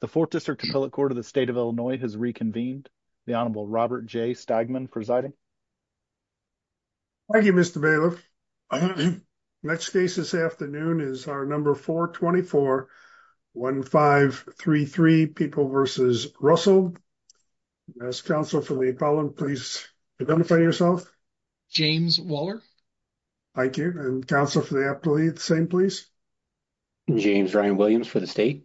The fourth district appellate court of the state of Illinois has reconvened. The Honorable Robert J. Stegman presiding. Thank you, Mr. Bailiff. Next case this afternoon is our number 424-1533, People v. Russell. As counsel for the appellant, please identify yourself. James Waller. Thank you. And counsel for the appellate, same please. James Ryan Williams for the state.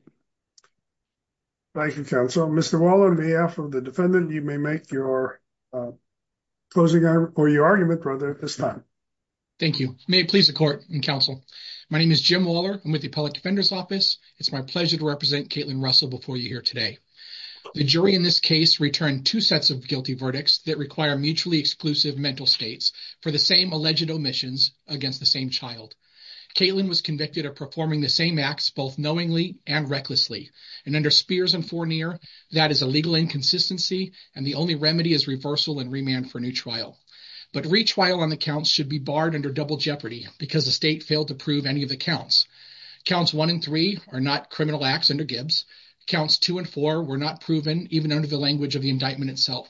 Thank you, counsel. Mr. Waller, on behalf of the defendant, you may make your closing or your argument, brother. It's time. Thank you. May it please the court and counsel. My name is Jim Waller. I'm with the Appellate Defender's Office. It's my pleasure to represent Caitlin Russell before you here today. The jury in this case returned two sets of guilty verdicts that require mutually exclusive mental states for the same alleged omissions against the same child. Caitlin was convicted of performing the same acts both knowingly and recklessly. And under Spears and Fournier, that is a legal inconsistency and the only remedy is reversal and remand for new trial. But retrial on the counts should be barred under double jeopardy because the state failed to prove any of the counts. Counts 1 and 3 are not criminal acts under Gibbs. Counts 2 and 4 were not proven even under the language of the indictment itself.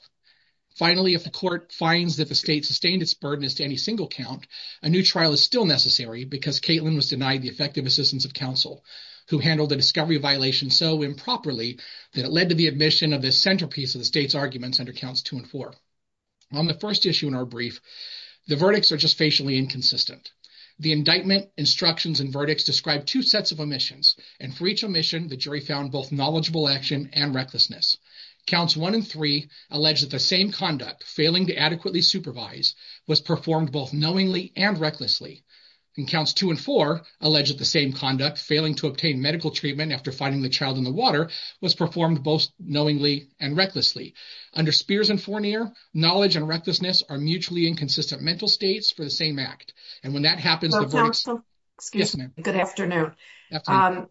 Finally, if the court finds that the state sustained its burden as to any single count, a new trial is still necessary because Caitlin was denied the effective assistance of counsel who handled the discovery violation so improperly that it led to the admission of the centerpiece of the state's arguments under counts 2 and 4. On the first issue in our brief, the verdicts are just facially inconsistent. The indictment instructions and verdicts describe two sets of omissions and for each omission, the jury found both knowledgeable action and recklessness. Counts 1 and 3 allege that the same conduct, failing to adequately supervise, was performed both knowingly and recklessly. And counts 2 and 4 allege that the same conduct, failing to obtain medical treatment after finding the child in the water, was performed both knowingly and recklessly. Under Spears and Fournier, knowledge and recklessness are mutually inconsistent mental states for the same act. And when that happens, good afternoon.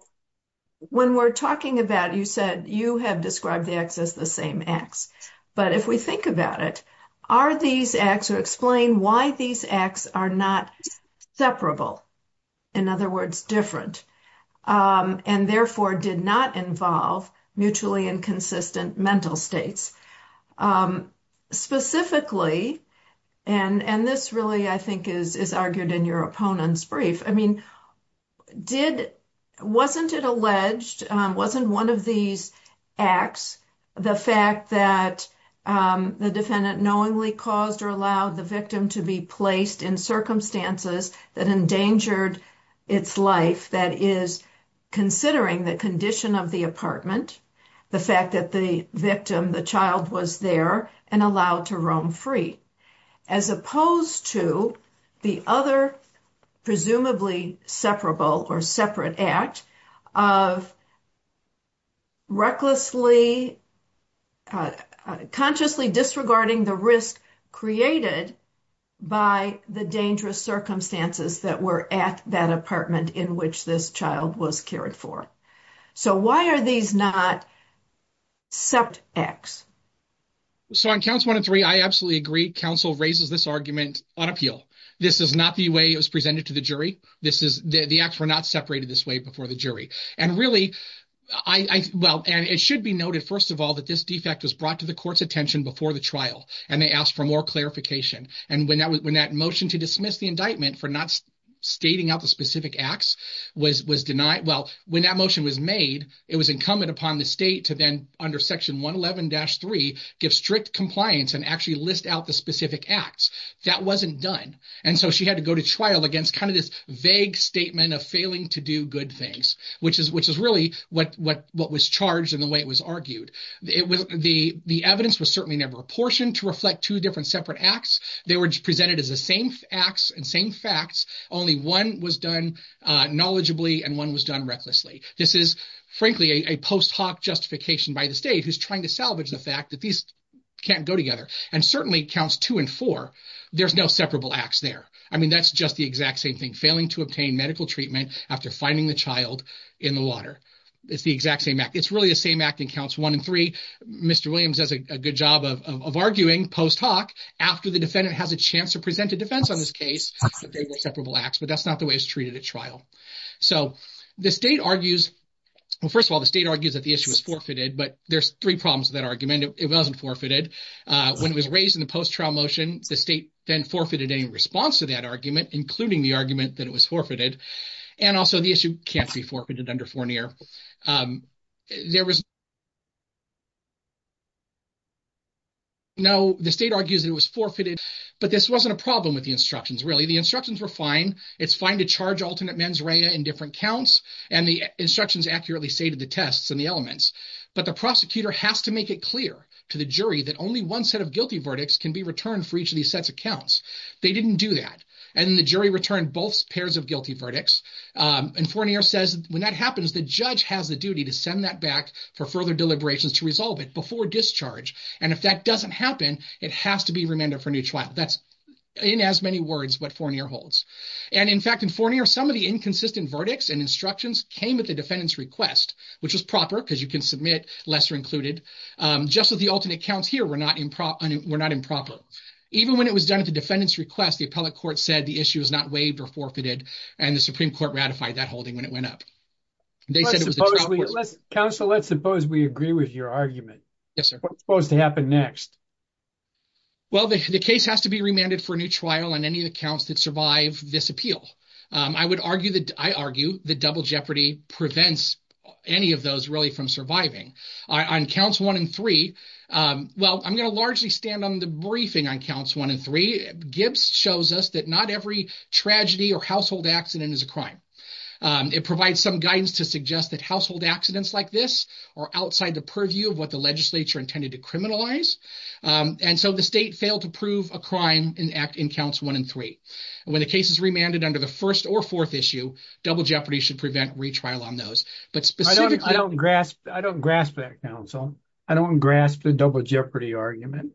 When we're talking about, you said you have described the acts as the same acts. But if we think about it, are these acts or explain why these acts are not separable, in other words, different, and therefore did not involve mutually inconsistent mental states. Specifically, and this really, I think, is argued in your opponent's brief, I mean, did, wasn't it alleged, wasn't one of these acts the fact that the defendant knowingly caused or allowed the victim to be placed in circumstances that endangered its life, that is, considering the condition of the apartment, the fact that the victim, the child, was there and allowed to roam separable or separate act of recklessly, consciously disregarding the risk created by the dangerous circumstances that were at that apartment in which this child was cared for. So why are these not sept acts? So on counts 1 and 3, I absolutely agree. Counsel raises this on appeal. This is not the way it was presented to the jury. The acts were not separated this way before the jury. And really, well, and it should be noted, first of all, that this defect was brought to the court's attention before the trial, and they asked for more clarification. And when that motion to dismiss the indictment for not stating out the specific acts was denied, well, when that motion was made, it was incumbent upon the state to then, under section 111-3, give strict compliance and actually list out the specific acts. That wasn't done, and so she had to go to trial against kind of this vague statement of failing to do good things, which is really what was charged in the way it was argued. The evidence was certainly never apportioned to reflect two different separate acts. They were presented as the same acts and same facts. Only one was done knowledgeably, and one was done recklessly. This is, frankly, a post hoc justification by the state who's trying to salvage the fact that these can't go together, and certainly counts two and four. There's no separable acts there. I mean, that's just the exact same thing, failing to obtain medical treatment after finding the child in the water. It's the exact same act. It's really the same act that counts one and three. Mr. Williams does a good job of arguing post hoc after the defendant has a chance to present a defense on this case, but they were separable acts, but that's not the way it's treated at trial. So the state argues, well, first of all, the state argues that the issue was forfeited, but there's three problems with that argument. It wasn't forfeited. When it was raised in the post-trial motion, the state then forfeited any response to that argument, including the argument that it was forfeited, and also the issue can't be forfeited under Fournier. No, the state argues it was forfeited, but this wasn't a problem with the instructions, really. The instructions were fine. It's fine to charge alternate mens rea in different counts, and the instructions accurately say to the tests and the elements, but the prosecutor has to make it clear to the jury that only one set of guilty verdicts can be returned for each of these sets of counts. They didn't do that, and then the jury returned both pairs of guilty verdicts, and Fournier says when that happens, the judge has the duty to send that back for further deliberations to resolve it before discharge, and if that doesn't happen, it has to be remanded for each trial. That's, in as many words, what Fournier holds, and in fact, in Fournier, some of the inconsistent verdicts and instructions came at the defendant's request, which was proper because you can submit lesser included, just that the alternate counts here were not improper. Even when it was done at the defendant's request, the appellate court said the issue is not waived or forfeited, and the Supreme Court ratified that holding when it went up. Counsel, let's suppose we agree with your argument. Yes, sir. What's supposed to happen next? Well, the case has to be remanded for a new trial on any of the counts that survive this appeal. I would argue that, I argue that double jeopardy prevents any of those really from surviving. On counts one and three, well, I'm going to largely stand on the briefing on counts one and three. Gibbs shows us that not every tragedy or household accident is a crime. It provides some guidance to suggest that household accidents like this are outside the purview of the legislature intended to criminalize, and so the state failed to prove a crime in counts one and three. When the case is remanded under the first or fourth issue, double jeopardy should prevent retrial on those. I don't grasp that, counsel. I don't grasp the double jeopardy argument.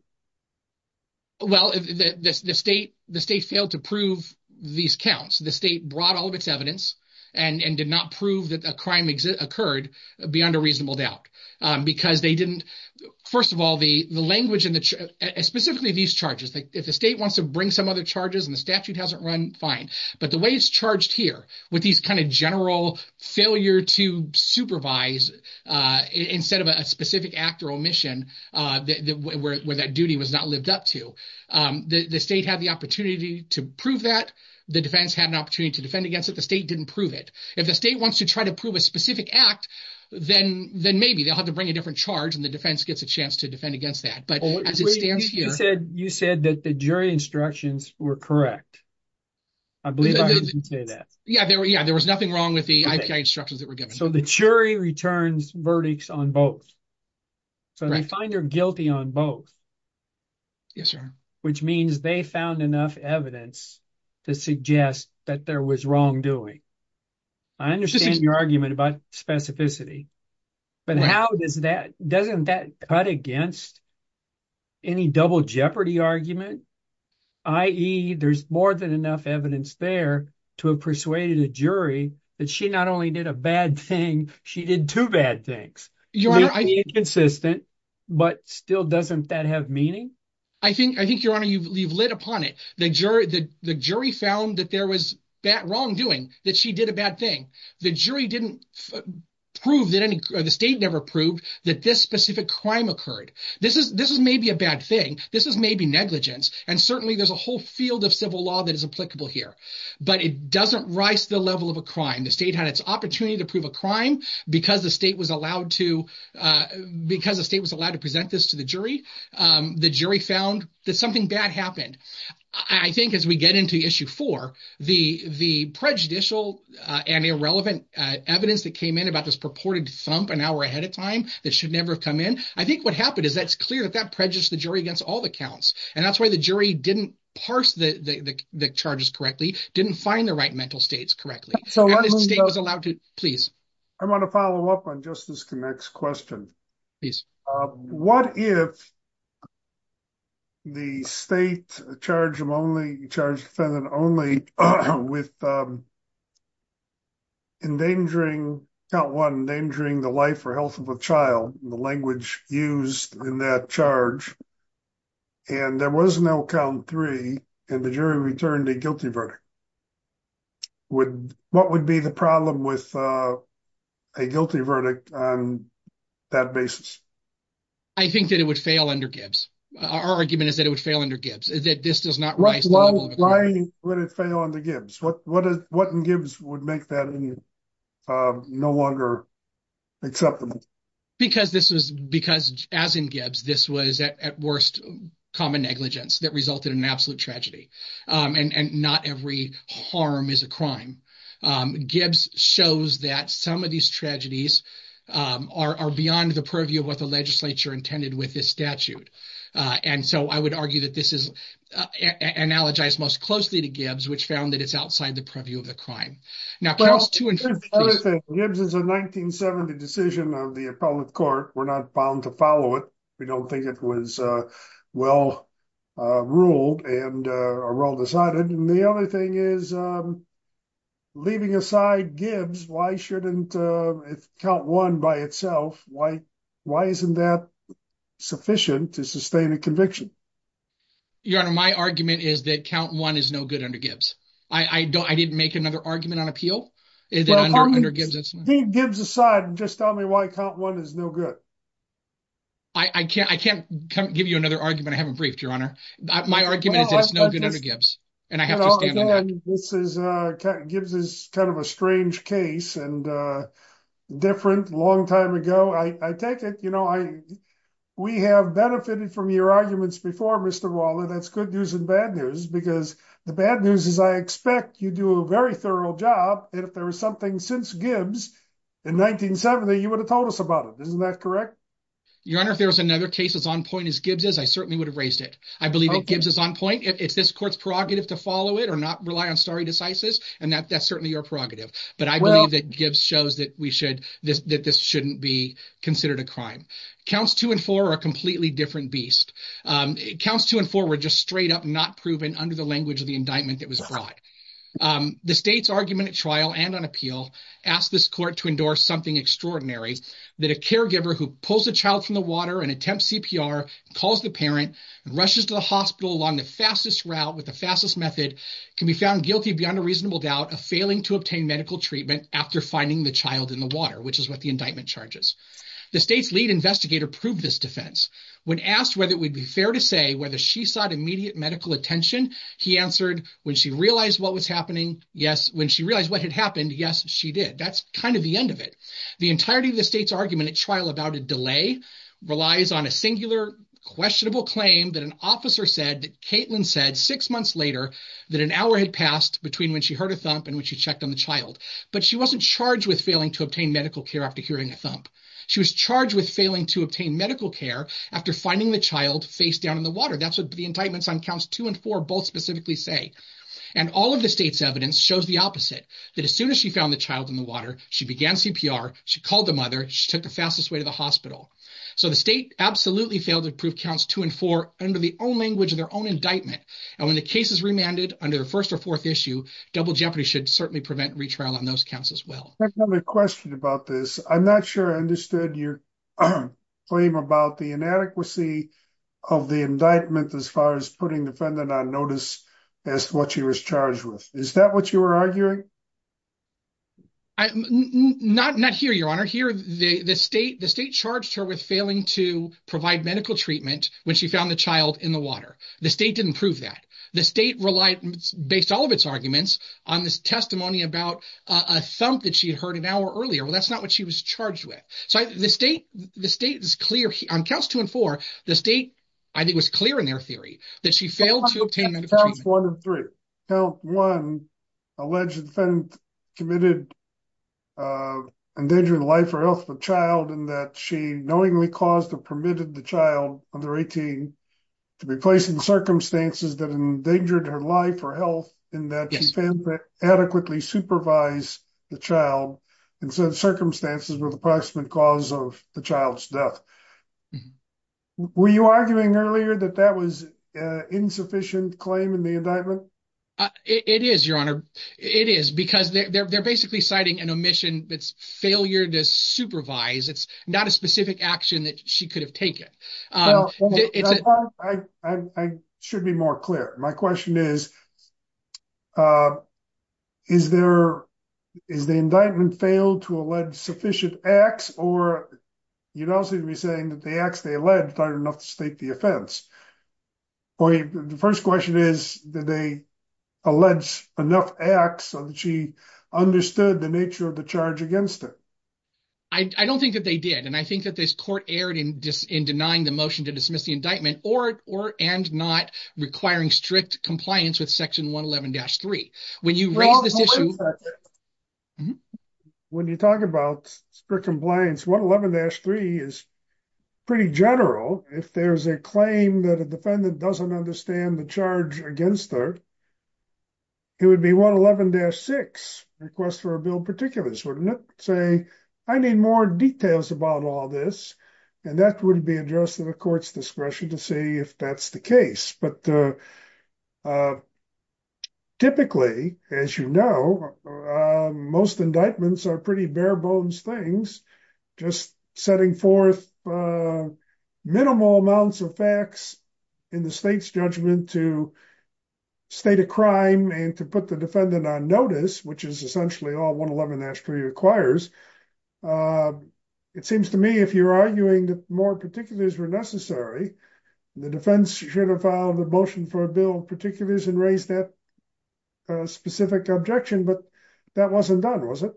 Well, the state failed to prove these counts. The state brought all of its evidence and did not prove that a crime occurred beyond a reasonable doubt because they didn't, first of all, the language in the, specifically these charges. If the state wants to bring some other charges and the statute hasn't run, fine, but the way it's charged here with these kind of general failure to supervise instead of a specific act or omission where that duty was not lived up to, the state had the opportunity to prove that. The defense had an opportunity to defend against the state didn't prove it. If the state wants to try to prove a specific act, then maybe they'll have to bring a different charge and the defense gets a chance to defend against that, but as it stands here- You said that the jury instructions were correct. I believe I heard you say that. Yeah, there was nothing wrong with the instructions that were given. So the jury returns verdicts on both. So they find they're guilty on both. Yes, sir. Which means they found enough evidence to suggest that there was wrongdoing. I understand your argument about specificity, but doesn't that cut against any double jeopardy argument, i.e. there's more than enough evidence there to have persuaded a jury that she not only did a bad thing, she did two bad things, inconsistent, but still doesn't that have meaning? I think, your honor, you've lit upon it. The jury found that there was wrongdoing, that she did a bad thing. The state never proved that this specific crime occurred. This is maybe a bad thing. This is maybe negligence, and certainly there's a whole field of civil law that is applicable here, but it doesn't rise to the level of a crime. The state had its opportunity to prove a crime because the state was allowed to present this to the jury. The jury found that something bad happened. I think as we get into issue four, the prejudicial and irrelevant evidence that came in about this purported thump an hour ahead of time that should never have come in, I think what happened is that's clear that that prejudiced the jury against all the counts. And that's why the jury didn't parse the charges correctly, didn't find the right mental states correctly. The state was allowed to... I want to follow up on Justice Connick's question. What if the state charged the defendant only with count one, endangering the life or health of a child, the language used in that charge, and there was no count three, and the jury returned a guilty verdict? What would be the problem with a guilty verdict on that basis? I think that it would fail under Gibbs. Our argument is that it would fail under Gibbs, that this does not rise to the level of a crime. Why would it fail under Gibbs? What in Gibbs would make that no longer acceptable? Because as in Gibbs, this was at worst common negligence that resulted in an absolute tragedy, and not every harm is a crime. Gibbs shows that some of these tragedies are beyond the purview of what the legislature intended with this statute. And so I would argue that this is analogized most closely to Gibbs, which found that it's outside the purview of the crime. Now, Gibbs is a 1970 decision of the appellate court. We're not bound to follow it. We don't think it was well-ruled or well-decided. And the other thing is, leaving aside Gibbs, why shouldn't count one by itself? Why isn't that sufficient to sustain a conviction? Your Honor, my argument is that count one is no good under Gibbs. I didn't make another argument on appeal under Gibbs. Leave Gibbs aside and just tell me why count one is no good. I can't give you another argument. I haven't briefed, Your Honor. My argument is that it's no good under Gibbs, and I have to stand on that. Gibbs is kind of a strange case and different, long time ago. I take it, you know, we have benefited from your arguments before, Mr. Waller. That's good news and bad news, because the bad news is I expect you do a very thorough job, and if there was something since Gibbs in 1970, you would have told us about it. Isn't that correct? Your Honor, if there was another case as on point as Gibbs is, I certainly would have raised it. I believe that Gibbs is on point. It's this court's prerogative to follow it or not rely on stare decisis, and that's certainly your prerogative. But I believe that Gibbs shows that this shouldn't be considered a crime. Counts two and four are a completely different beast. Counts two and four were just straight up not proven under the language of the indictment that was brought. The state's argument at trial and on appeal asked this court to endorse something extraordinary, that a caregiver who pulls a child from the water and attempts CPR, calls the parent, and rushes to the hospital along the fastest route with the fastest method can be found guilty beyond a reasonable doubt of failing to obtain medical treatment after finding the child in the water, which is what the indictment charges. The state's lead investigator proved this defense. When asked whether it would be fair to say whether she sought immediate medical attention, he answered, when she realized what was happening, yes, when she realized what had happened, yes, she did. That's kind of the end of it. The entirety of the state's argument at trial about a delay relies on a singular, questionable claim that an officer said that Caitlin said six months later that an hour had passed between when she heard a thump and when she checked on the child. But she wasn't charged with failing to obtain medical care after hearing a thump. She was charged with failing to obtain medical care after finding the child face down in the water. That's what the indictments on counts two and four both specifically say. And all of the state's evidence shows the opposite, that as soon as she found the child in the water, she began CPR, she called the mother, she took the fastest way to the hospital. So the state absolutely failed to prove counts two and four under the own language of their own indictment. And when the case is remanded under the first or fourth issue, double jeopardy should certainly prevent retrial on those counts as well. I have a question about this. I'm not sure I understood your claim about the inadequacy of the indictment as far as putting defendant on notice as to what she was charged with. Is that what you were arguing? Not here, Your Honor. Here, the state charged her with failing to provide medical treatment when she found the child in the water. The state didn't prove that. The state relied, based on all of its arguments, on this testimony about a thump that she had heard an hour earlier. Well, that's not what she was charged with. So the state is clear. On counts two and four, the state, I think, was clear in their theory that she failed to obtain medical treatment. Counts one and three. Count one, alleged defendant committed endangering the life or health of a child in that she knowingly caused or permitted the child under 18 to be placed in circumstances that endangered her life or health in that she failed to adequately supervise the child in circumstances with approximate cause of the death. Were you arguing earlier that that was insufficient claim in the indictment? It is, Your Honor. It is because they're basically citing an omission that's failure to supervise. It's not a specific action that she could have taken. I should be more clear. My question is, is the indictment failed to allege sufficient acts, or you don't seem to be saying that the acts they alleged aren't enough to state the offense. The first question is, did they allege enough acts so that she understood the nature of the charge against her? I don't think that they did. And I think that this court erred in denying the motion to dismiss the indictment or and not requiring strict compliance with the indictment. Section 111-3. When you talk about strict compliance, 111-3 is pretty general. If there's a claim that a defendant doesn't understand the charge against her, it would be 111-6, request for a bill particulars, wouldn't it? Say, I need more details about all this. And that would be addressed to the court's discretion to see if that's the case. But typically, as you know, most indictments are pretty bare bones things, just setting forth minimal amounts of facts in the state's judgment to state a crime and to put the defendant on notice, which is essentially all 111-3 requires. It seems to me if you're arguing that more particulars were necessary, the defense should have filed a motion for a bill of particulars and raised that specific objection. But that wasn't done, was it?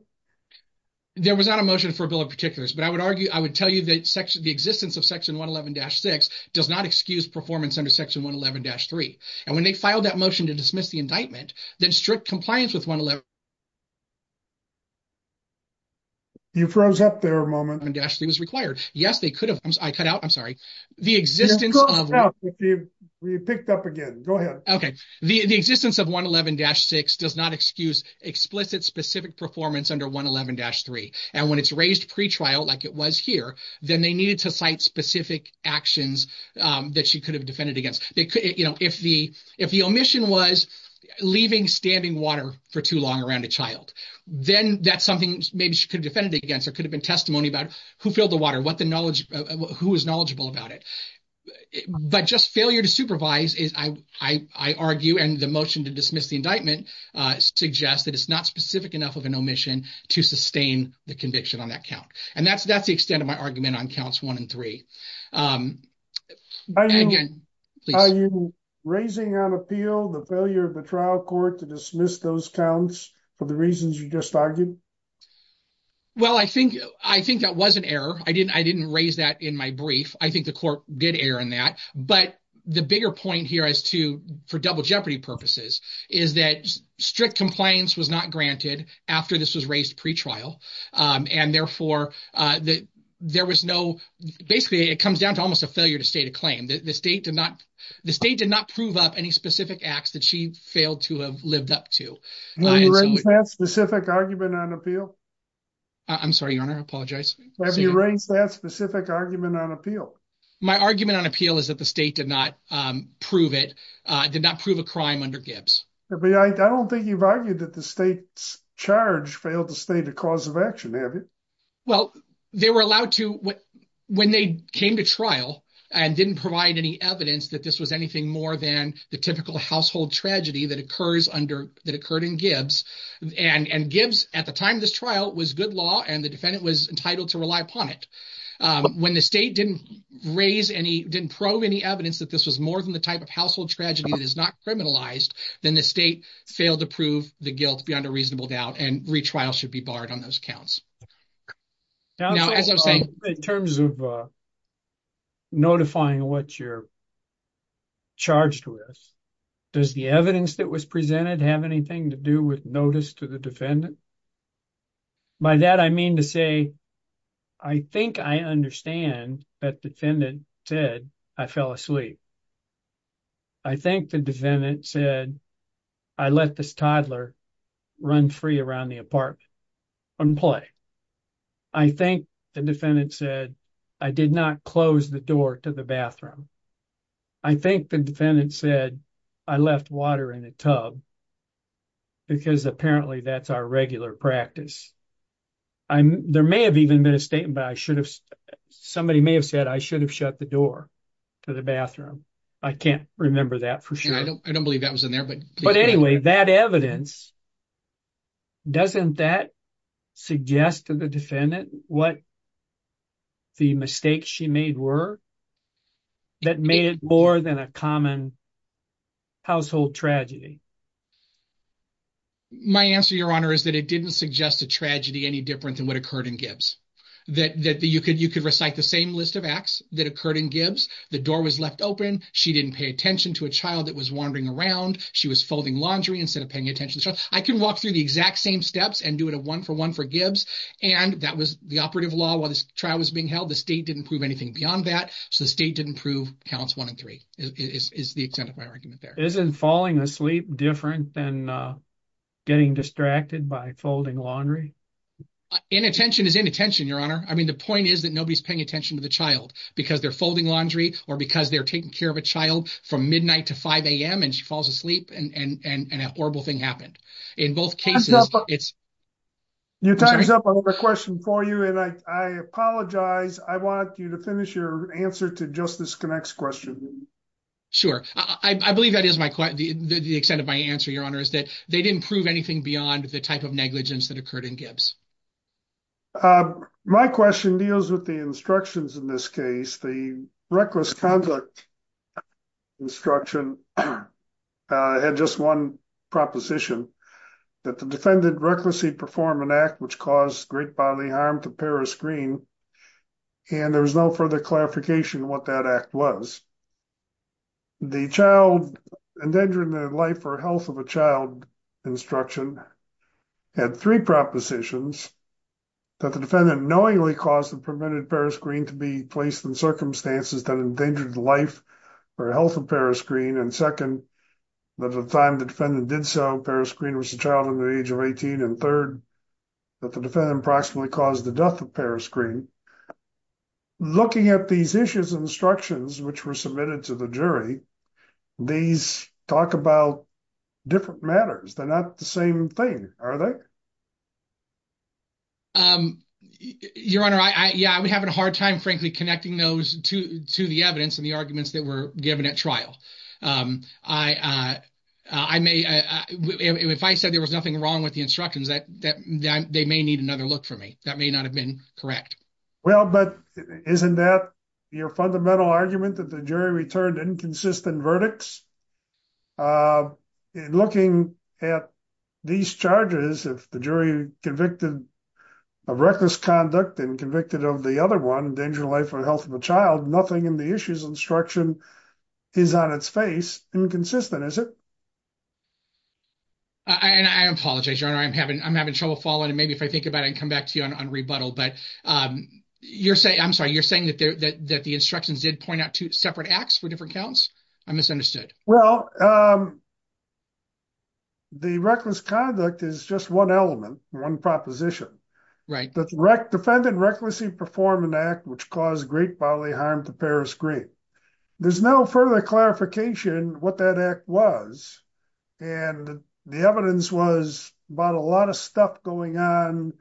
There was not a motion for a bill of particulars. But I would argue, I would tell you that section, the existence of section 111-6 does not excuse performance under section 111-3. And when they filed that motion to dismiss the indictment, that strict compliance with 111-3. You froze up there a moment. 111-3 was required. Yes, they could have. I cut out. I'm sorry. The existence of. You froze up. You picked up again. Go ahead. Okay. The existence of 111-6 does not excuse explicit specific performance under 111-3. And when it's raised pretrial, like it was here, then they needed to cite specific actions that she could have defended against. If the omission was leaving standing water for too long around a child, then that's something maybe she could defend it against or could have been testimony about who filled the water, what the knowledge, who is knowledgeable about it. But just failure to supervise is, I argue, and the motion to dismiss the indictment suggests that it's not specific enough of an omission to sustain the conviction on that count. And that's the extent of my argument on counts one and three. Again, please. Are you raising on appeal the failure of the trial court to dismiss those counts for the reasons you just argued? Well, I think that was an error. I didn't raise that in my brief. I think the court did error in that. But the bigger point here is to, for double jeopardy purposes, is that strict compliance was not granted after this was raised pretrial. And therefore, there was no... Basically, it comes down to almost a failure to state a claim. The state did not prove up any specific acts that she failed to have lived up to. Have you raised that specific argument on appeal? I'm sorry, Your Honor. I apologize. Have you raised that specific argument on appeal? My argument on appeal is that the state did not prove it, did not prove a crime under Gibbs. I don't think you've argued that the state's charge failed to state a cause of action, have you? Well, they were allowed to... When they came to trial and didn't provide any evidence that this was anything more than the typical household tragedy that occurred in Gibbs, and Gibbs, at the time of this trial, was good law and the defendant was entitled to rely upon it. When the state didn't raise any, didn't probe any evidence that this was more than the type of household tragedy that is not criminalized, then the state failed to prove the guilt beyond a reasonable doubt and retrial should be barred on those counts. Now, as I was saying... In terms of notifying what you're charged with, does the evidence that was presented have anything to do with notice to the defendant? By that, I mean to say, I think I understand that defendant said, I fell asleep. I think the defendant said, I let this toddler run free around the apartment and play. I think the defendant said, I did not close the door to the bathroom. I think the defendant said, I left water in the tub because apparently that's our regular practice. There may have even been a statement, but somebody may have said, I should have shut the door to the bathroom. I can't remember that for sure. I don't believe that was in there, but... But anyway, that evidence, doesn't that suggest to the defendant what the mistakes she made were? That made it more than a common household tragedy. My answer, your honor, is that it didn't suggest a tragedy any different than what occurred in Gibbs. That you could recite the same list of acts that occurred in Gibbs. The door was left open. She didn't pay attention to a child that was wandering around. She was folding laundry instead of paying attention. I can walk through the exact same steps and do it a one for one for Gibbs. And that was the operative law while this trial was being held. The state didn't prove anything beyond that. So the state didn't prove counts one and three is the extent of my argument there. Isn't falling asleep different than getting distracted by folding laundry? Inattention is inattention, your honor. I mean, the point is that nobody's paying attention to the child because they're folding laundry or because they're taking care of a child from midnight to 5 a.m. and she falls asleep and an horrible thing happened. In both cases, it's... Your time's up. I have a question for you and I apologize. I want you to finish your answer to Justice Connacht's question. Sure. I believe that is the extent of my answer, your honor, is that they didn't prove anything beyond the type of negligence that occurred in Gibbs. My question deals with the instructions in this case. The reckless conduct instruction had just one proposition, that the defendant recklessly performed an act which caused great bodily harm to Paris Greene and there was no further clarification what that act was. The child endangering the life or health of a child instruction had three propositions, that the defendant knowingly caused and prevented Paris Greene to be placed in circumstances that endangered the life or health of Paris Greene, and second, that at the time the defendant did so, Paris Greene was a child in the age of 18, and third, that the defendant approximately caused the death of Paris Greene. Looking at these issues and instructions which were submitted to the jury, these talk about different matters. They're not the same thing, are they? Your honor, yeah, we're having a hard time frankly connecting those to the evidence and arguments that were given at trial. If I said there was nothing wrong with the instructions, they may need another look for me. That may not have been correct. Well, but isn't that your fundamental argument, that the jury returned inconsistent verdicts? Looking at these charges, if the jury convicted of reckless conduct and convicted of the other one, the child, nothing in the issues instruction is on its face, inconsistent, is it? I apologize, your honor. I'm having trouble following, and maybe if I think about it, I can come back to you on rebuttal, but you're saying, I'm sorry, you're saying that the instructions did point out two separate acts for different counts? I misunderstood. Well, the reckless conduct is just one element, one proposition. Right. Defendant recklessly performed an act which caused great bodily harm to Paris Green. There's no further clarification what that act was, and the evidence was about a lot of stuff going on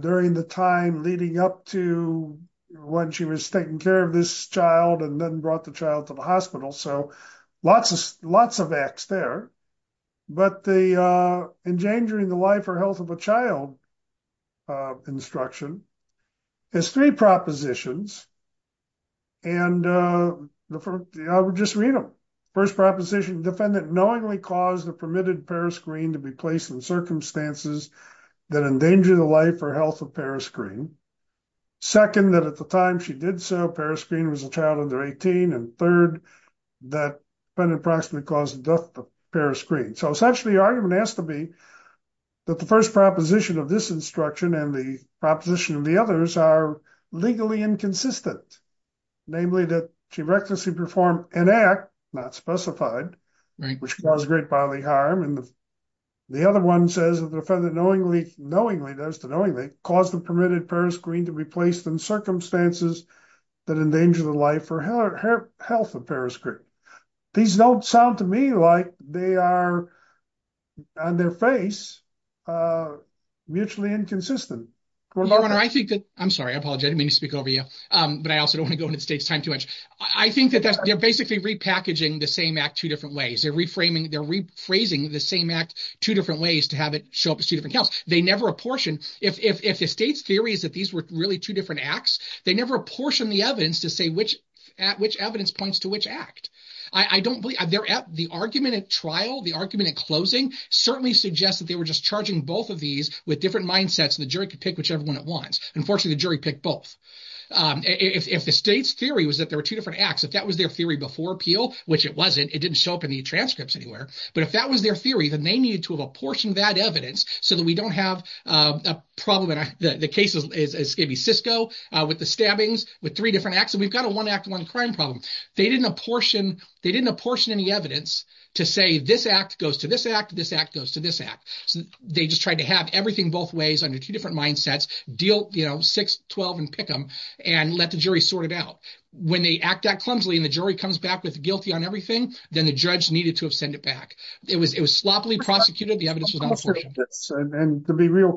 during the time leading up to when she was taking care of this child and then brought the child to the hospital. So lots of acts there, but the endangering the life or health of a child instruction. There's three propositions, and I would just read them. First proposition, defendant knowingly caused the permitted Paris Green to be placed in circumstances that endanger the life or health of Paris Green. Second, that at the time she did so, Paris Green was a child under 18, and third, that defendant approximately caused the death of Paris Green. So essentially the argument has to be that the first proposition of this instruction and the proposition of the others are legally inconsistent. Namely that she recklessly performed an act, not specified, which caused great bodily harm. And the other one says that the defendant knowingly does the knowingly caused the permitted Paris Green to be placed in circumstances that endanger the life or health of Paris Green. These don't sound to me like they are on their face, mutually inconsistent. I'm sorry, I apologize. I didn't mean to speak over you, but I also don't want to go into the state's time too much. I think that they're basically repackaging the same act two different ways. They're reframing, they're rephrasing the same act two different ways to have it show up as two different counts. They never apportion. If the state's theory is that these were really two different acts, they never apportion the evidence to say which evidence points to which act. The argument at trial, the argument at closing certainly suggests that they were just charging both of these with different mindsets. The jury could pick whichever one it wants. Unfortunately, the jury picked both. If the state's theory was that there were two different acts, if that was their theory before appeal, which it wasn't, it didn't show up in the transcripts anywhere. But if that was their theory, then they needed to have apportioned that evidence so that we don't have a problem. The case is maybe Cisco with the stabbings with three acts. We've got a one act, one crime problem. They didn't apportion any evidence to say this act goes to this act, this act goes to this act. They just tried to have everything both ways under two different mindsets, deal 6-12 and pick them and let the jury sort it out. When they act that clumsily and the jury comes back with guilty on everything, then the judge needed to have sent it back. It was sloppily prosecuted. The evidence was not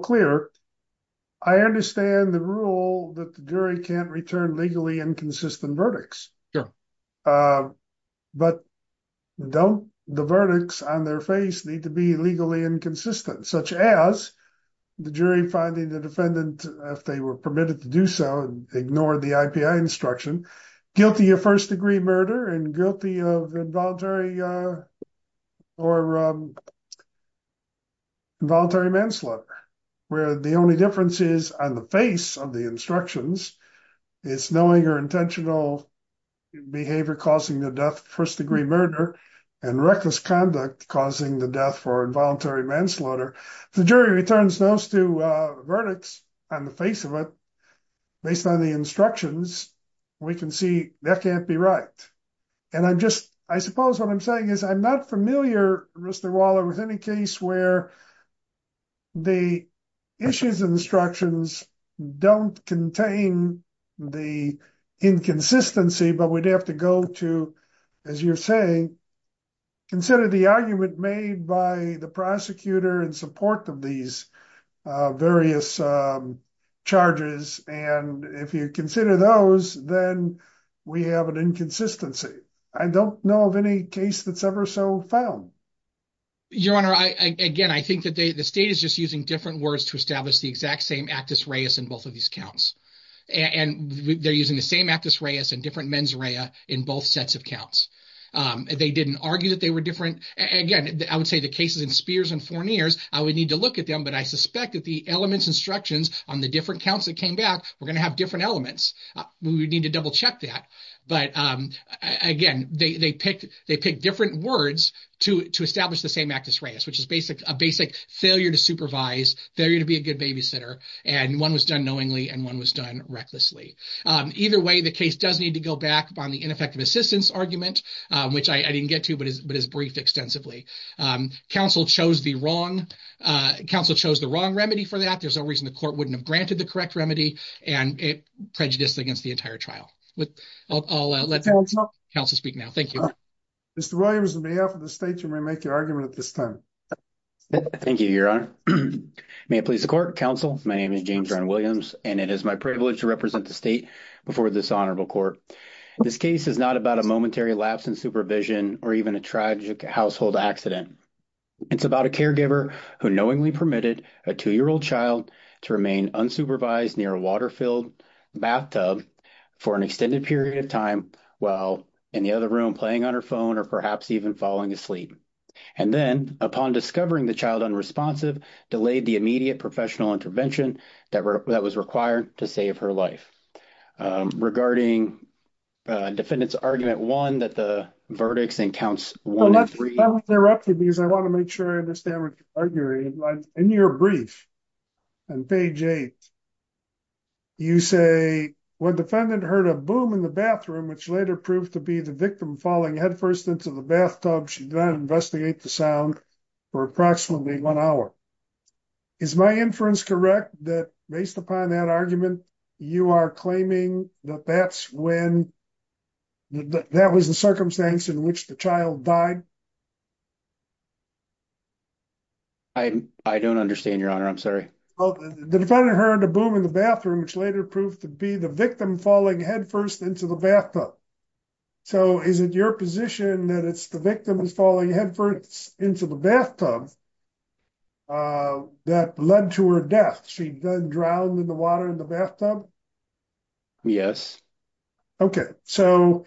clear. I understand the rule that the jury can't return legally inconsistent verdicts. But don't the verdicts on their face need to be legally inconsistent, such as the jury finding the defendant, if they were permitted to do so, ignored the IPI instruction, guilty of first degree murder, and reckless conduct causing the death for involuntary manslaughter. If the jury returns those two verdicts on the face of it, based on the instructions, we can see that can't be right. And I'm just, I suppose what I'm saying is I'm not familiar, Mr. Waller, with any case where the issues and instructions don't contain the inconsistency, but we'd have to go to, as you're saying, consider the argument made by the prosecutor in support of these various charges. And if you consider those, then we have an inconsistency. I don't know of any case that's ever so found. Your Honor, again, I think that the state is just using different words to establish the exact same actus reus in both of these counts. And they're using the same actus reus and different mens rea in both sets of counts. They didn't argue that they were different. Again, I would say the cases in Spears and Fournier's, I would need to look at them, but I suspect that the elements instructions on the different counts that came back, we're going to have different elements. We would need to double check that. But again, they picked different words to establish the same actus reus, which is a basic failure to supervise, failure to be a good babysitter. And one was done knowingly and one was done recklessly. Either way, the case does need to go back on the ineffective assistance argument, which I didn't get to, but is briefed extensively. Counsel chose the wrong remedy for that. There's no reason the court wouldn't have granted the correct remedy and prejudiced against the entire trial. I'll let counsel speak now. Thank you. Mr. Williams, on behalf of the state, you may make your argument at this time. Thank you, your honor. May it please the court, counsel. My name is James Ryan Williams, and it is my privilege to represent the state before this honorable court. This case is not about a momentary lapse in supervision or even a tragic household accident. It's about a caregiver who knowingly permitted a two-year-old child to remain unsupervised near a water-filled bathtub for an extended period of time while in the other room playing on her phone or perhaps even falling asleep. And then, upon discovering the child unresponsive, delayed the immediate professional intervention that was required to save her life. Regarding defendant's argument one, that the verdicts in counts one and three. I want to make sure I understand what you're arguing. In your brief on page eight, you say when defendant heard a boom in the bathroom, which later proved to be the victim falling headfirst into the bathtub, she did not investigate the sound for approximately one hour. Is my inference correct that, based upon that argument, you are claiming that that's when that was the circumstance in which the child died? I don't understand, your honor. I'm sorry. Well, the defendant heard a boom in the bathroom, which later proved to be the victim falling headfirst into the bathtub. So, is it your position that it's the victim who's falling headfirst into the bathtub that led to her death? She then drowned in the water in the bathtub? Yes. Okay. So,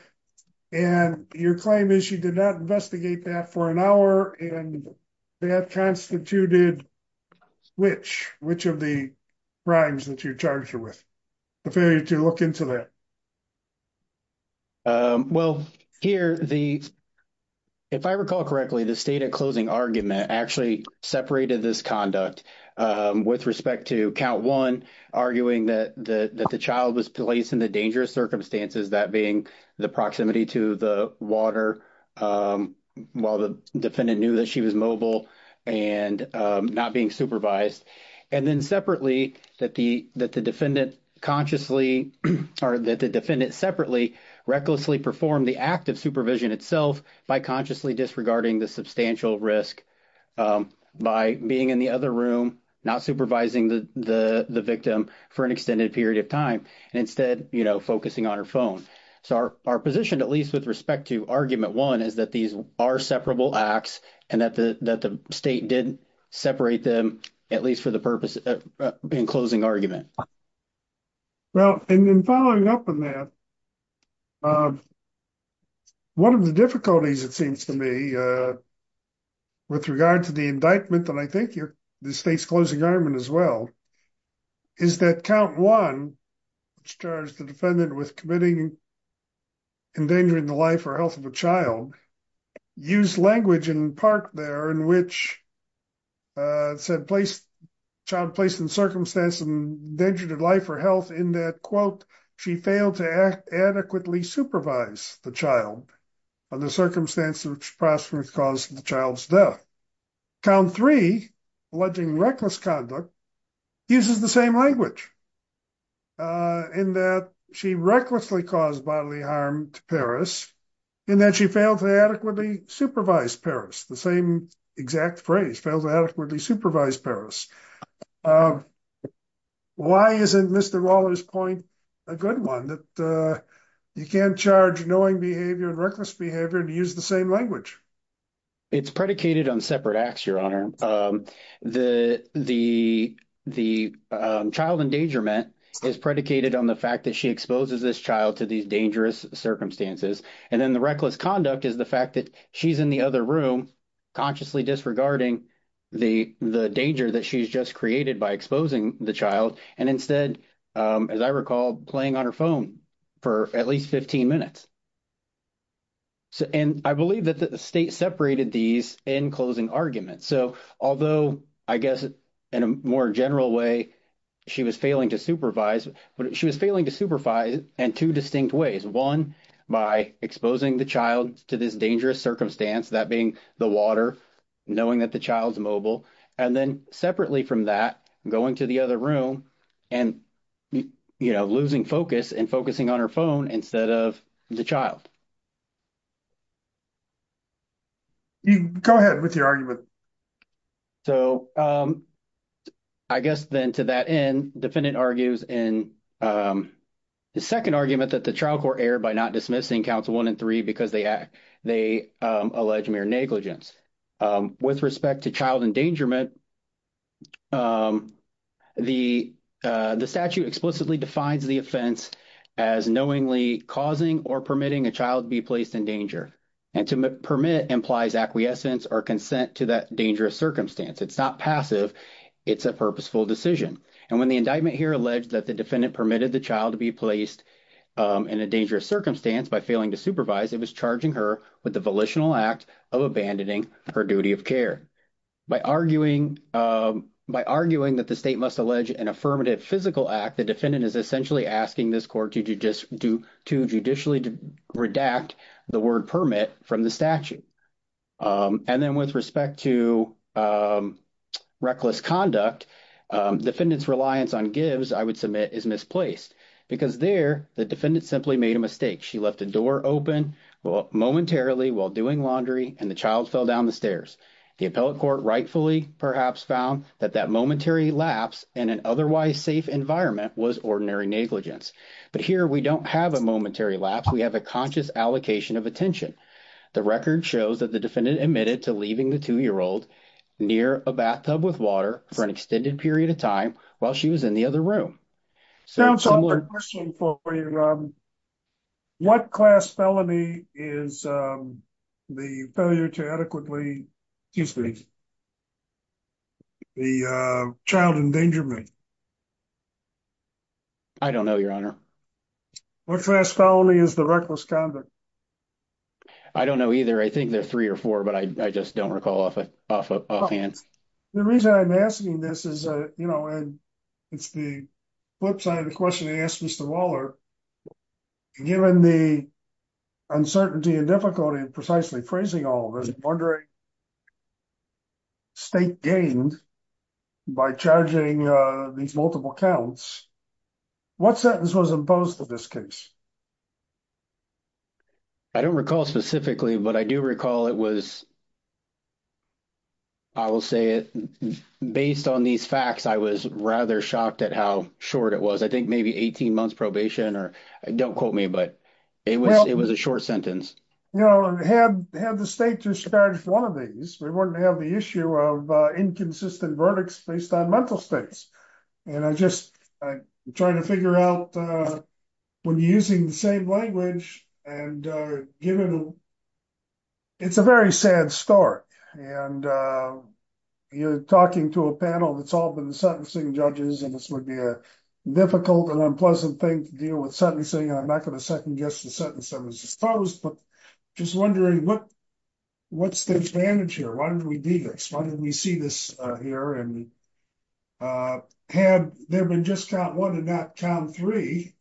and your claim is she did not investigate that for an hour, and that constituted which? Which of the crimes that you're charged with, the failure to look into that? Well, here, if I recall correctly, the stated closing argument actually separated this conduct with respect to count one, arguing that the child was placed in the dangerous circumstances, that being the proximity to the water while the defendant knew that she was mobile and not being supervised. And then, separately, that the defendant consciously or that the defendant separately recklessly performed the act of supervision itself by consciously disregarding the substantial risk by being in the other room, not supervising the victim for an extended period of time, and instead focusing on her phone. So, our position, at least with respect to argument one, is that these are separable acts and that the state did separate them, at least for the purpose of being closing argument. Okay. Well, and then following up on that, one of the difficulties, it seems to me, with regard to the indictment, and I think the state's closing argument as well, is that count one, which charged the defendant with committing endangering the life or health of a child, used language in part there in which it said child placed in circumstance and endangered life or health in that, quote, she failed to adequately supervise the child under circumstances which possibly caused the child's death. Count three, alleging reckless conduct, uses the same language in that she recklessly caused bodily harm to Paris in that she failed to adequately supervise Paris, the same exact phrase, failed to adequately supervise Paris. Why isn't Mr. Roller's point a good one, that you can't charge knowing behavior and reckless behavior and use the same language? It's predicated on separate acts, your honor. The child endangerment is predicated on the fact that she exposes this child to these dangerous circumstances, and then the reckless conduct is the fact that she's in the other room consciously disregarding the danger that she's just created by exposing the child, and instead, as I recall, playing on her phone for at least 15 minutes. And I believe that the state separated these in closing argument. So although, I guess, in a more general way, she was failing to supervise, but she was failing to supervise in two distinct ways. One, by exposing the child to this dangerous circumstance, that being the water, knowing that the child's mobile, and then separately from that, going to the other room and losing focus and focusing on her phone instead of the child. Go ahead with your argument. Sure. So, I guess, then, to that end, defendant argues in the second argument that the child court erred by not dismissing counts 1 and 3 because they act they allege mere negligence. With respect to child endangerment, the statute explicitly defines the offense as knowingly causing or permitting a child be placed in danger. And to permit implies acquiescence or consent to that dangerous circumstance. It's not passive. It's a purposeful decision. And when the indictment here alleged that the defendant permitted the child to be placed in a dangerous circumstance by failing to supervise, it was charging her with the volitional act of abandoning her duty of care. By arguing that the state must allege an affirmative physical act, the defendant is asking this court to judicially redact the word permit from the statute. And then with respect to reckless conduct, defendant's reliance on gives, I would submit, is misplaced. Because there, the defendant simply made a mistake. She left a door open momentarily while doing laundry, and the child fell down the stairs. The appellate court rightfully perhaps found that that momentary lapse in an otherwise safe environment was ordinary negligence. But here we don't have a momentary lapse. We have a conscious allocation of attention. The record shows that the defendant admitted to leaving the two-year-old near a bathtub with water for an extended period of time while she was in the other room. Sounds like a question for you, Rob. What class felony is the failure to adequately the child endangerment? I don't know, your honor. What class felony is the reckless conduct? I don't know either. I think there's three or four, but I just don't recall offhand. The reason I'm asking this is, you know, and it's the flip side of the question you asked, Mr. Waller, given the uncertainty and difficulty in precisely phrasing all this, I'm wondering, state gained by charging these multiple counts, what sentence was imposed in this case? I don't recall specifically, but I do recall it was, I will say it based on these facts, I was rather shocked at how short it was. I think maybe 18 months probation or don't quote me, but it was a short sentence. You know, had the state just charged one of these, we wouldn't have the issue of inconsistent verdicts based on mental states. And I'm just trying to figure out when you're using the same language and given, it's a very sad start. And you're talking to a panel that's all been sentencing judges, and this would be a difficult and unpleasant thing to deal with sentencing. And I'm not going to second guess the sentence that was imposed, but just wondering what's the advantage here? Why did we do this? Why did we see this here? And had there been just count one and not count three,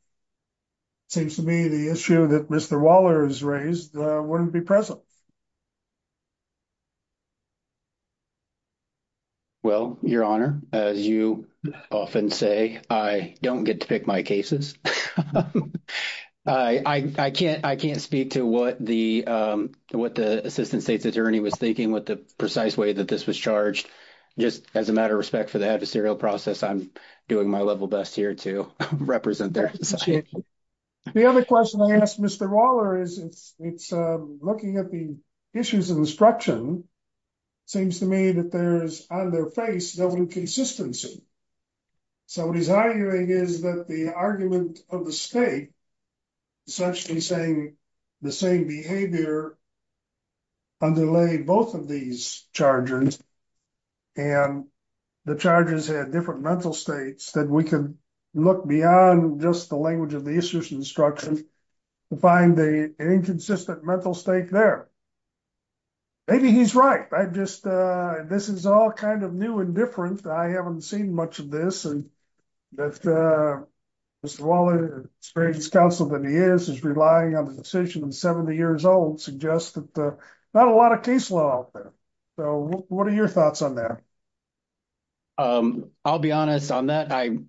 it seems to me the issue that Mr. Waller has raised wouldn't be present. Well, your honor, as you often say, I don't get to pick my cases. I can't speak to what the assistant state's attorney was thinking with the precise way that this was charged. Just as a matter of respect for the adversarial process, I'm doing my level best here to represent that. The other question I asked Mr. Waller is, it's looking at the issues of instruction, seems to me that there's on their face, no inconsistency. So what he's arguing is that the argument of the state, essentially saying the same behavior underlay both of these charges. And the charges had different mental states that we could look beyond just the language of the issues of instruction to find the inconsistent mental stake there. Maybe he's right. I just, this is all kind of new and different. I haven't seen much of this and that Mr. Waller, the greatest counsel that he is, is relying on the decision of 70 years old suggests that there's not a lot of caseload out there. So what are your thoughts on that? I'll be honest on that. I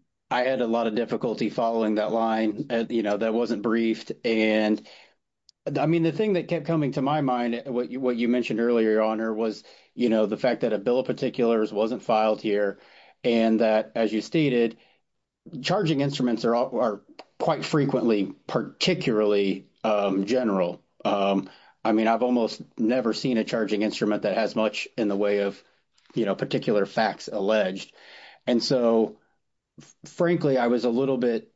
had a lot of difficulty following that line that wasn't briefed. And I mean, the thing that kept coming to my mind, what you mentioned earlier, your honor, was the fact that a bill of particulars wasn't filed here. And that, as you stated, charging instruments are quite frequently particularly general. I mean, I've almost never seen a charging instrument that has much in the way of particular facts alleged. And so frankly, I was a little bit,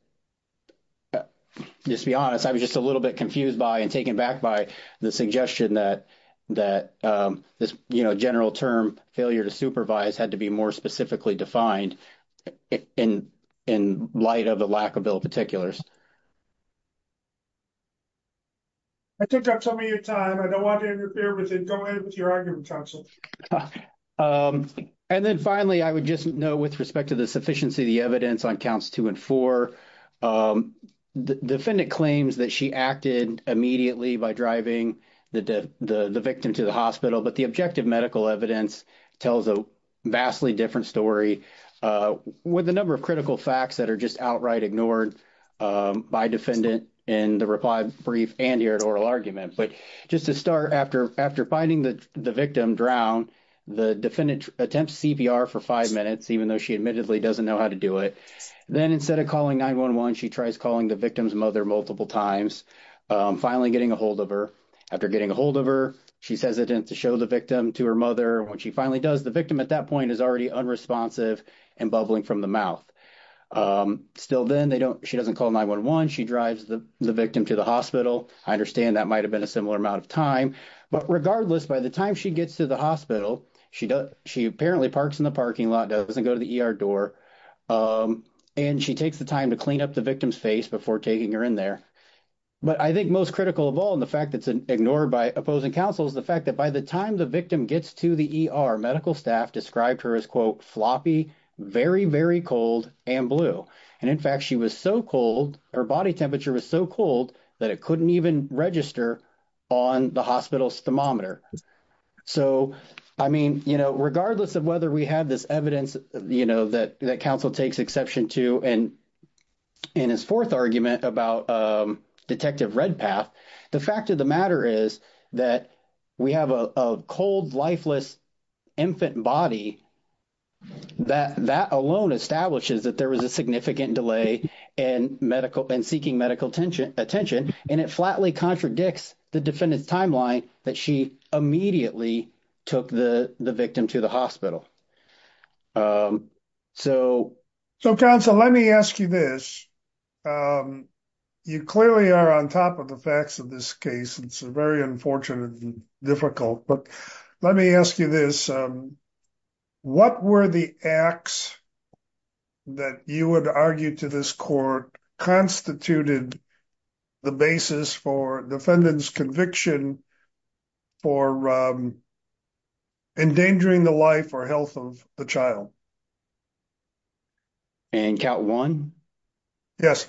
just to be honest, I was just a little bit confused by and taken back by the suggestion that this general term, failure to supervise, had to be more specifically defined in light of the lack of bill of particulars. I took up some of your time. I don't want to interfere with it. Go ahead with your argument, counsel. And then finally, I would just note with respect to the sufficiency of the evidence on counts two and four, the defendant claims that she acted immediately by driving the victim to hospital. But the objective medical evidence tells a vastly different story with a number of critical facts that are just outright ignored by defendant in the reply brief and here at oral argument. But just to start, after finding the victim drowned, the defendant attempts CPR for five minutes, even though she admittedly doesn't know how to do it. Then instead of calling 911, she tries calling the victim's mother multiple times, finally getting a hold of her. After getting a hold of her, she's hesitant to show the victim to her mother. When she finally does, the victim at that point is already unresponsive and bubbling from the mouth. Still then, she doesn't call 911. She drives the victim to the hospital. I understand that might have been a similar amount of time. But regardless, by the time she gets to the hospital, she apparently parks in the parking lot, doesn't go to the ER door, and she takes the time to clean up the victim's face before taking her in there. But I think most critical of all in the fact that's ignored by opposing counsel is the fact that by the time the victim gets to the ER, medical staff described her as, quote, floppy, very, very cold, and blue. And in fact, she was so cold, her body temperature was so cold that it couldn't even register on the hospital's thermometer. So, I mean, you know, regardless of whether we have this evidence, you know, that counsel takes exception to in his fourth argument about Detective Redpath, the fact of the matter is that we have a cold, lifeless infant body that alone establishes that there was a significant delay in seeking medical attention. And it flatly contradicts the defendant's timeline that she immediately took the victim to the hospital. So... So, counsel, let me ask you this. You clearly are on top of the facts of this case. It's very unfortunate and difficult. But let me ask you this. What were the acts that you would argue to constituted the basis for defendant's conviction for endangering the life or health of the child? In count one? Yes.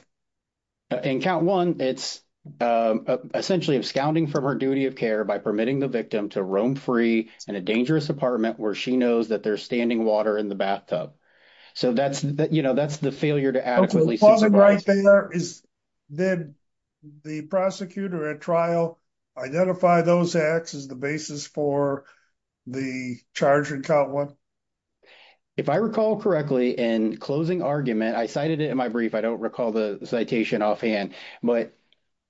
In count one, it's essentially absconding from her duty of care by permitting the victim to roam free in a dangerous apartment where she knows that there's standing water in the bathtub. So, that's, you know, that's the failure to adequately... Did the prosecutor at trial identify those acts as the basis for the charge in count one? If I recall correctly, in closing argument, I cited it in my brief. I don't recall the citation offhand. But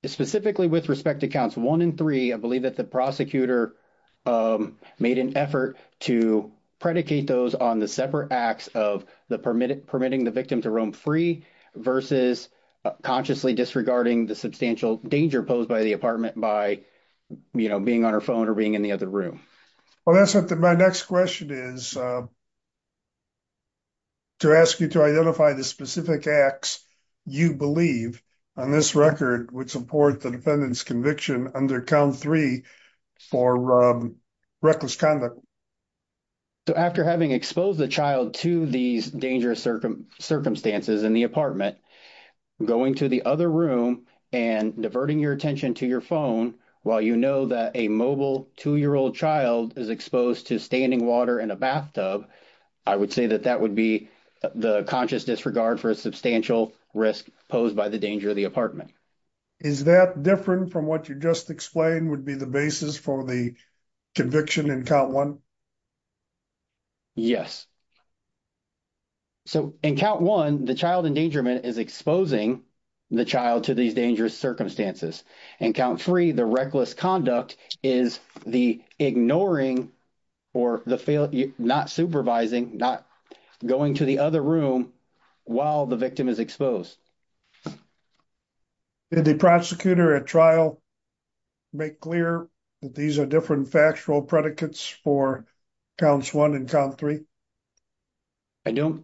specifically with respect to counts one and three, I believe that the prosecutor made an effort to predicate those on the separate acts of the permitting the victim to roam free versus consciously disregarding the substantial danger posed by the apartment by, you know, being on her phone or being in the other room. Well, that's what my next question is. To ask you to identify the specific acts you believe on this record would support the conviction under count three for reckless conduct. So, after having exposed the child to these dangerous circumstances in the apartment, going to the other room and diverting your attention to your phone while you know that a mobile two-year-old child is exposed to standing water in a bathtub, I would say that that would be the conscious disregard for a substantial risk posed by the danger of the apartment. Is that different from what you just explained would be the basis for the conviction in count one? Yes. So, in count one, the child endangerment is exposing the child to these dangerous circumstances. In count three, the reckless conduct is the ignoring or the not supervising, not going to the other room while the victim is exposed. Did the prosecutor at trial make clear that these are different factual predicates for counts one and count three? I don't.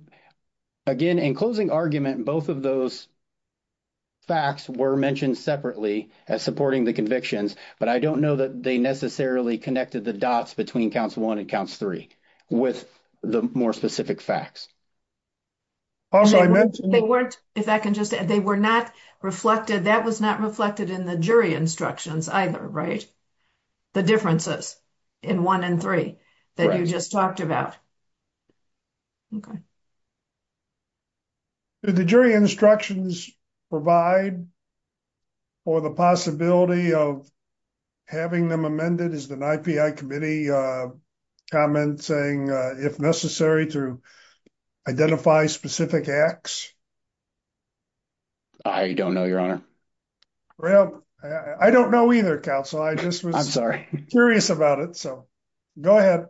Again, in closing argument, both of those facts were mentioned separately as supporting the convictions, but I don't know that they necessarily connected the dots between counts one and counts three with the more specific facts. Also, I mentioned- They weren't, if I can just add, they were not reflected, that was not reflected in the jury instructions either, right? The differences in one and three that you just talked about. Okay. Did the jury instructions provide for the possibility of having them amended, is the IPI committee commenting, if necessary, to identify specific acts? I don't know, your honor. Well, I don't know either, counsel. I just was- Curious about it. So, go ahead.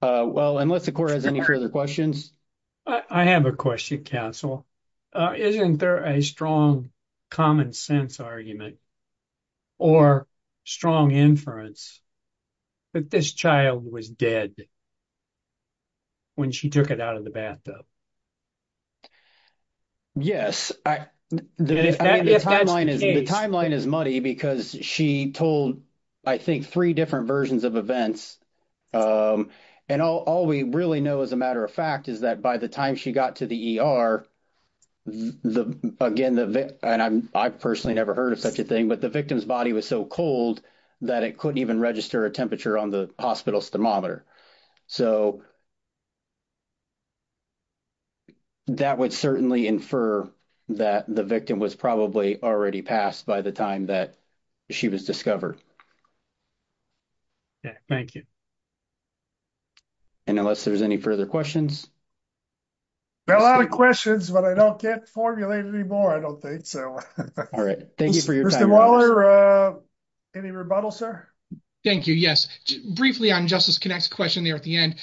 Well, unless the court has any further questions. I have a question, counsel. Isn't there a strong common sense argument or strong inference that this child was dead when she took it out of the bathtub? Yes. The timeline is muddy because she told, I think, three different versions of events, and all we really know, as a matter of fact, is that by the time she got to the ER, the, again, and I've personally never heard of such a thing, but the victim's body was so cold that it couldn't even register a temperature on the hospital's thermometer. So, that would certainly infer that the victim was probably already passed by the time that she was discovered. Yeah, thank you. And unless there's any further questions? There are a lot of questions, but I don't get formulated anymore, I don't think, so. All right. Thank you for your time. Mr. Waller, any rebuttal, sir? Thank you. Yes. Briefly on Justice Connacht's question there at the end,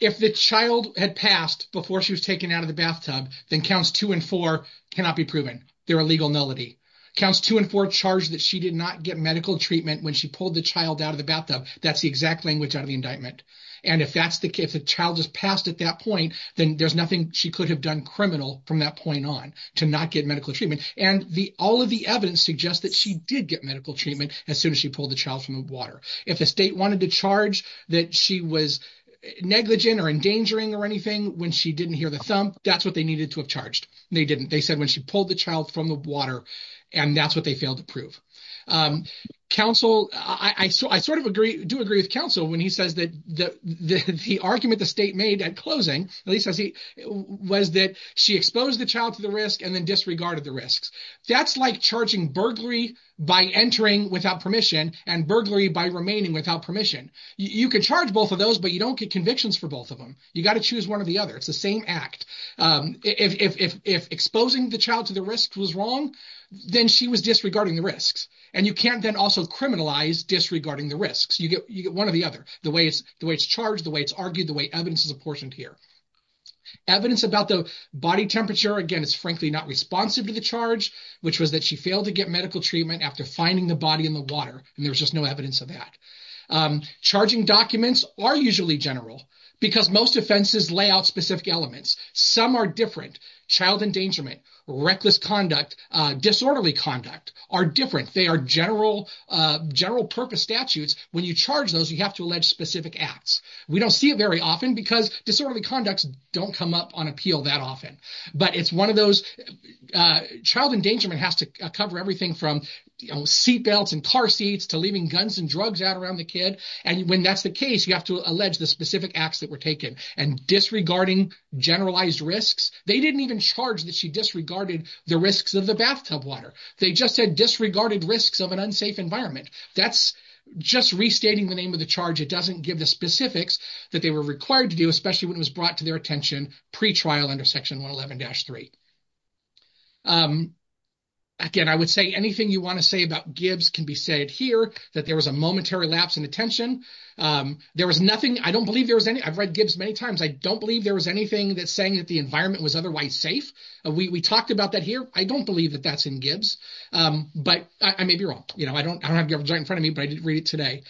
if the child had passed before she was taken out of the bathtub, then counts two and four cannot be proven. They're a legal nullity. Counts two and four charge that she did not get medical treatment when she pulled the child out of the bathtub. That's the exact language out of the indictment. And if that's the case, if the child just passed at that point, then there's nothing she could have done criminal from that point on to not get medical treatment. And all of the evidence suggests that she did get medical treatment as soon as she pulled the child from the water. If the state wanted to charge that she was negligent or endangering or anything when she didn't hear the thump, that's what they needed to have charged. They didn't. They said when she pulled the child from the water, and that's what they failed to prove. Counsel, I sort of agree, do agree with counsel when he says that the argument the state made at closing, at least as he was that she exposed the child to the risk and then disregarded the risks. That's like charging burglary by entering without permission and burglary by remaining without permission. You can charge both of those, but you don't get convictions for both of them. You got to choose one or the other. It's the same act. If exposing the child to the risk was wrong, then she was disregarding the risks. And you can't then also criminalize disregarding the risks. You get one or the other. The way it's charged, the way it's argued, the way evidence is apportioned here. Evidence about the body temperature, again, it's frankly not responsive to the charge, which was that she failed to get medical treatment after finding the body in the water. And there was just no evidence of that. Charging documents are usually general because most offenses lay out specific elements. Some are different. Child endangerment, reckless conduct, disorderly conduct are different. They are general purpose statutes. When you charge those, you have to allege specific acts. We don't see it very often because disorderly conducts don't come up on appeal that often. But it's one of those child endangerment has to cover everything from seatbelts and car seats to leaving guns and drugs out around the kid. And when that's the case, you have to allege the specific acts that were taken. And disregarding generalized risks, they didn't even charge that she disregarded the risks of the bathtub water. They just said disregarded risks of an unsafe environment. That's just restating the name of the charge. It doesn't give the specifics that they were required to do, especially when it was brought to their attention pre-trial under Section 111-3. Again, I would say anything you want to say about Gibbs can be said here, that there was a momentary lapse in attention. There was nothing, I don't believe there was any, I've read Gibbs many times. I don't believe there saying that the environment was otherwise safe. We talked about that here. I don't believe that that's in Gibbs, but I may be wrong. I don't have Gibbs right in front of me, but I did read it today.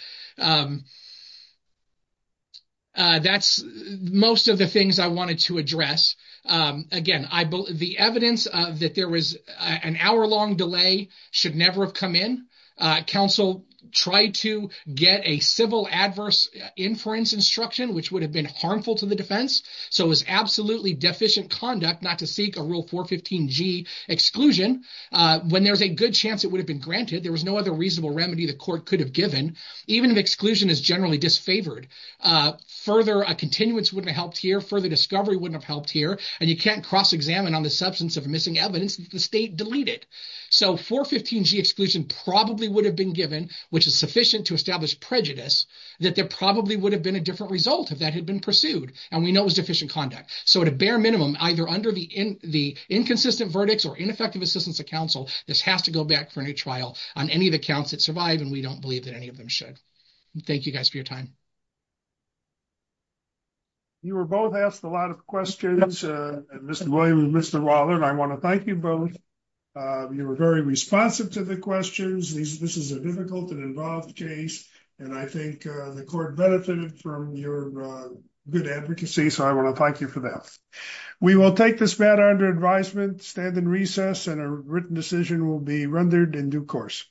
That's most of the things I wanted to address. Again, the evidence that there was an hour-long delay should never have come in. Counsel tried to get a civil adverse inference instruction, which would have been harmful to the defense. It was absolutely deficient conduct not to seek a Rule 415G exclusion. When there's a good chance it would have been granted, there was no other reasonable remedy the court could have given. Even if exclusion is generally disfavored, further continuance wouldn't have helped here, further discovery wouldn't have helped here, and you can't cross-examine on the substance of missing evidence that the state deleted. 415G exclusion probably would have been given, which is sufficient to establish prejudice, that there probably would have been a different result if that had been pursued, and we know it was deficient conduct. So at a bare minimum, either under the inconsistent verdicts or ineffective assistance of counsel, this has to go back for a new trial on any of the counts that survived, and we don't believe that any of them should. Thank you guys for your time. You were both asked a lot of questions, Mr. Williams and Mr. Waller, and I want to thank you both. You were very responsive to the questions. This is a difficult and involved case, and I think the court benefited from your good advocacy, so I want to thank you for that. We will take this matter under advisement, stand in recess, and a written decision will be rendered in due course.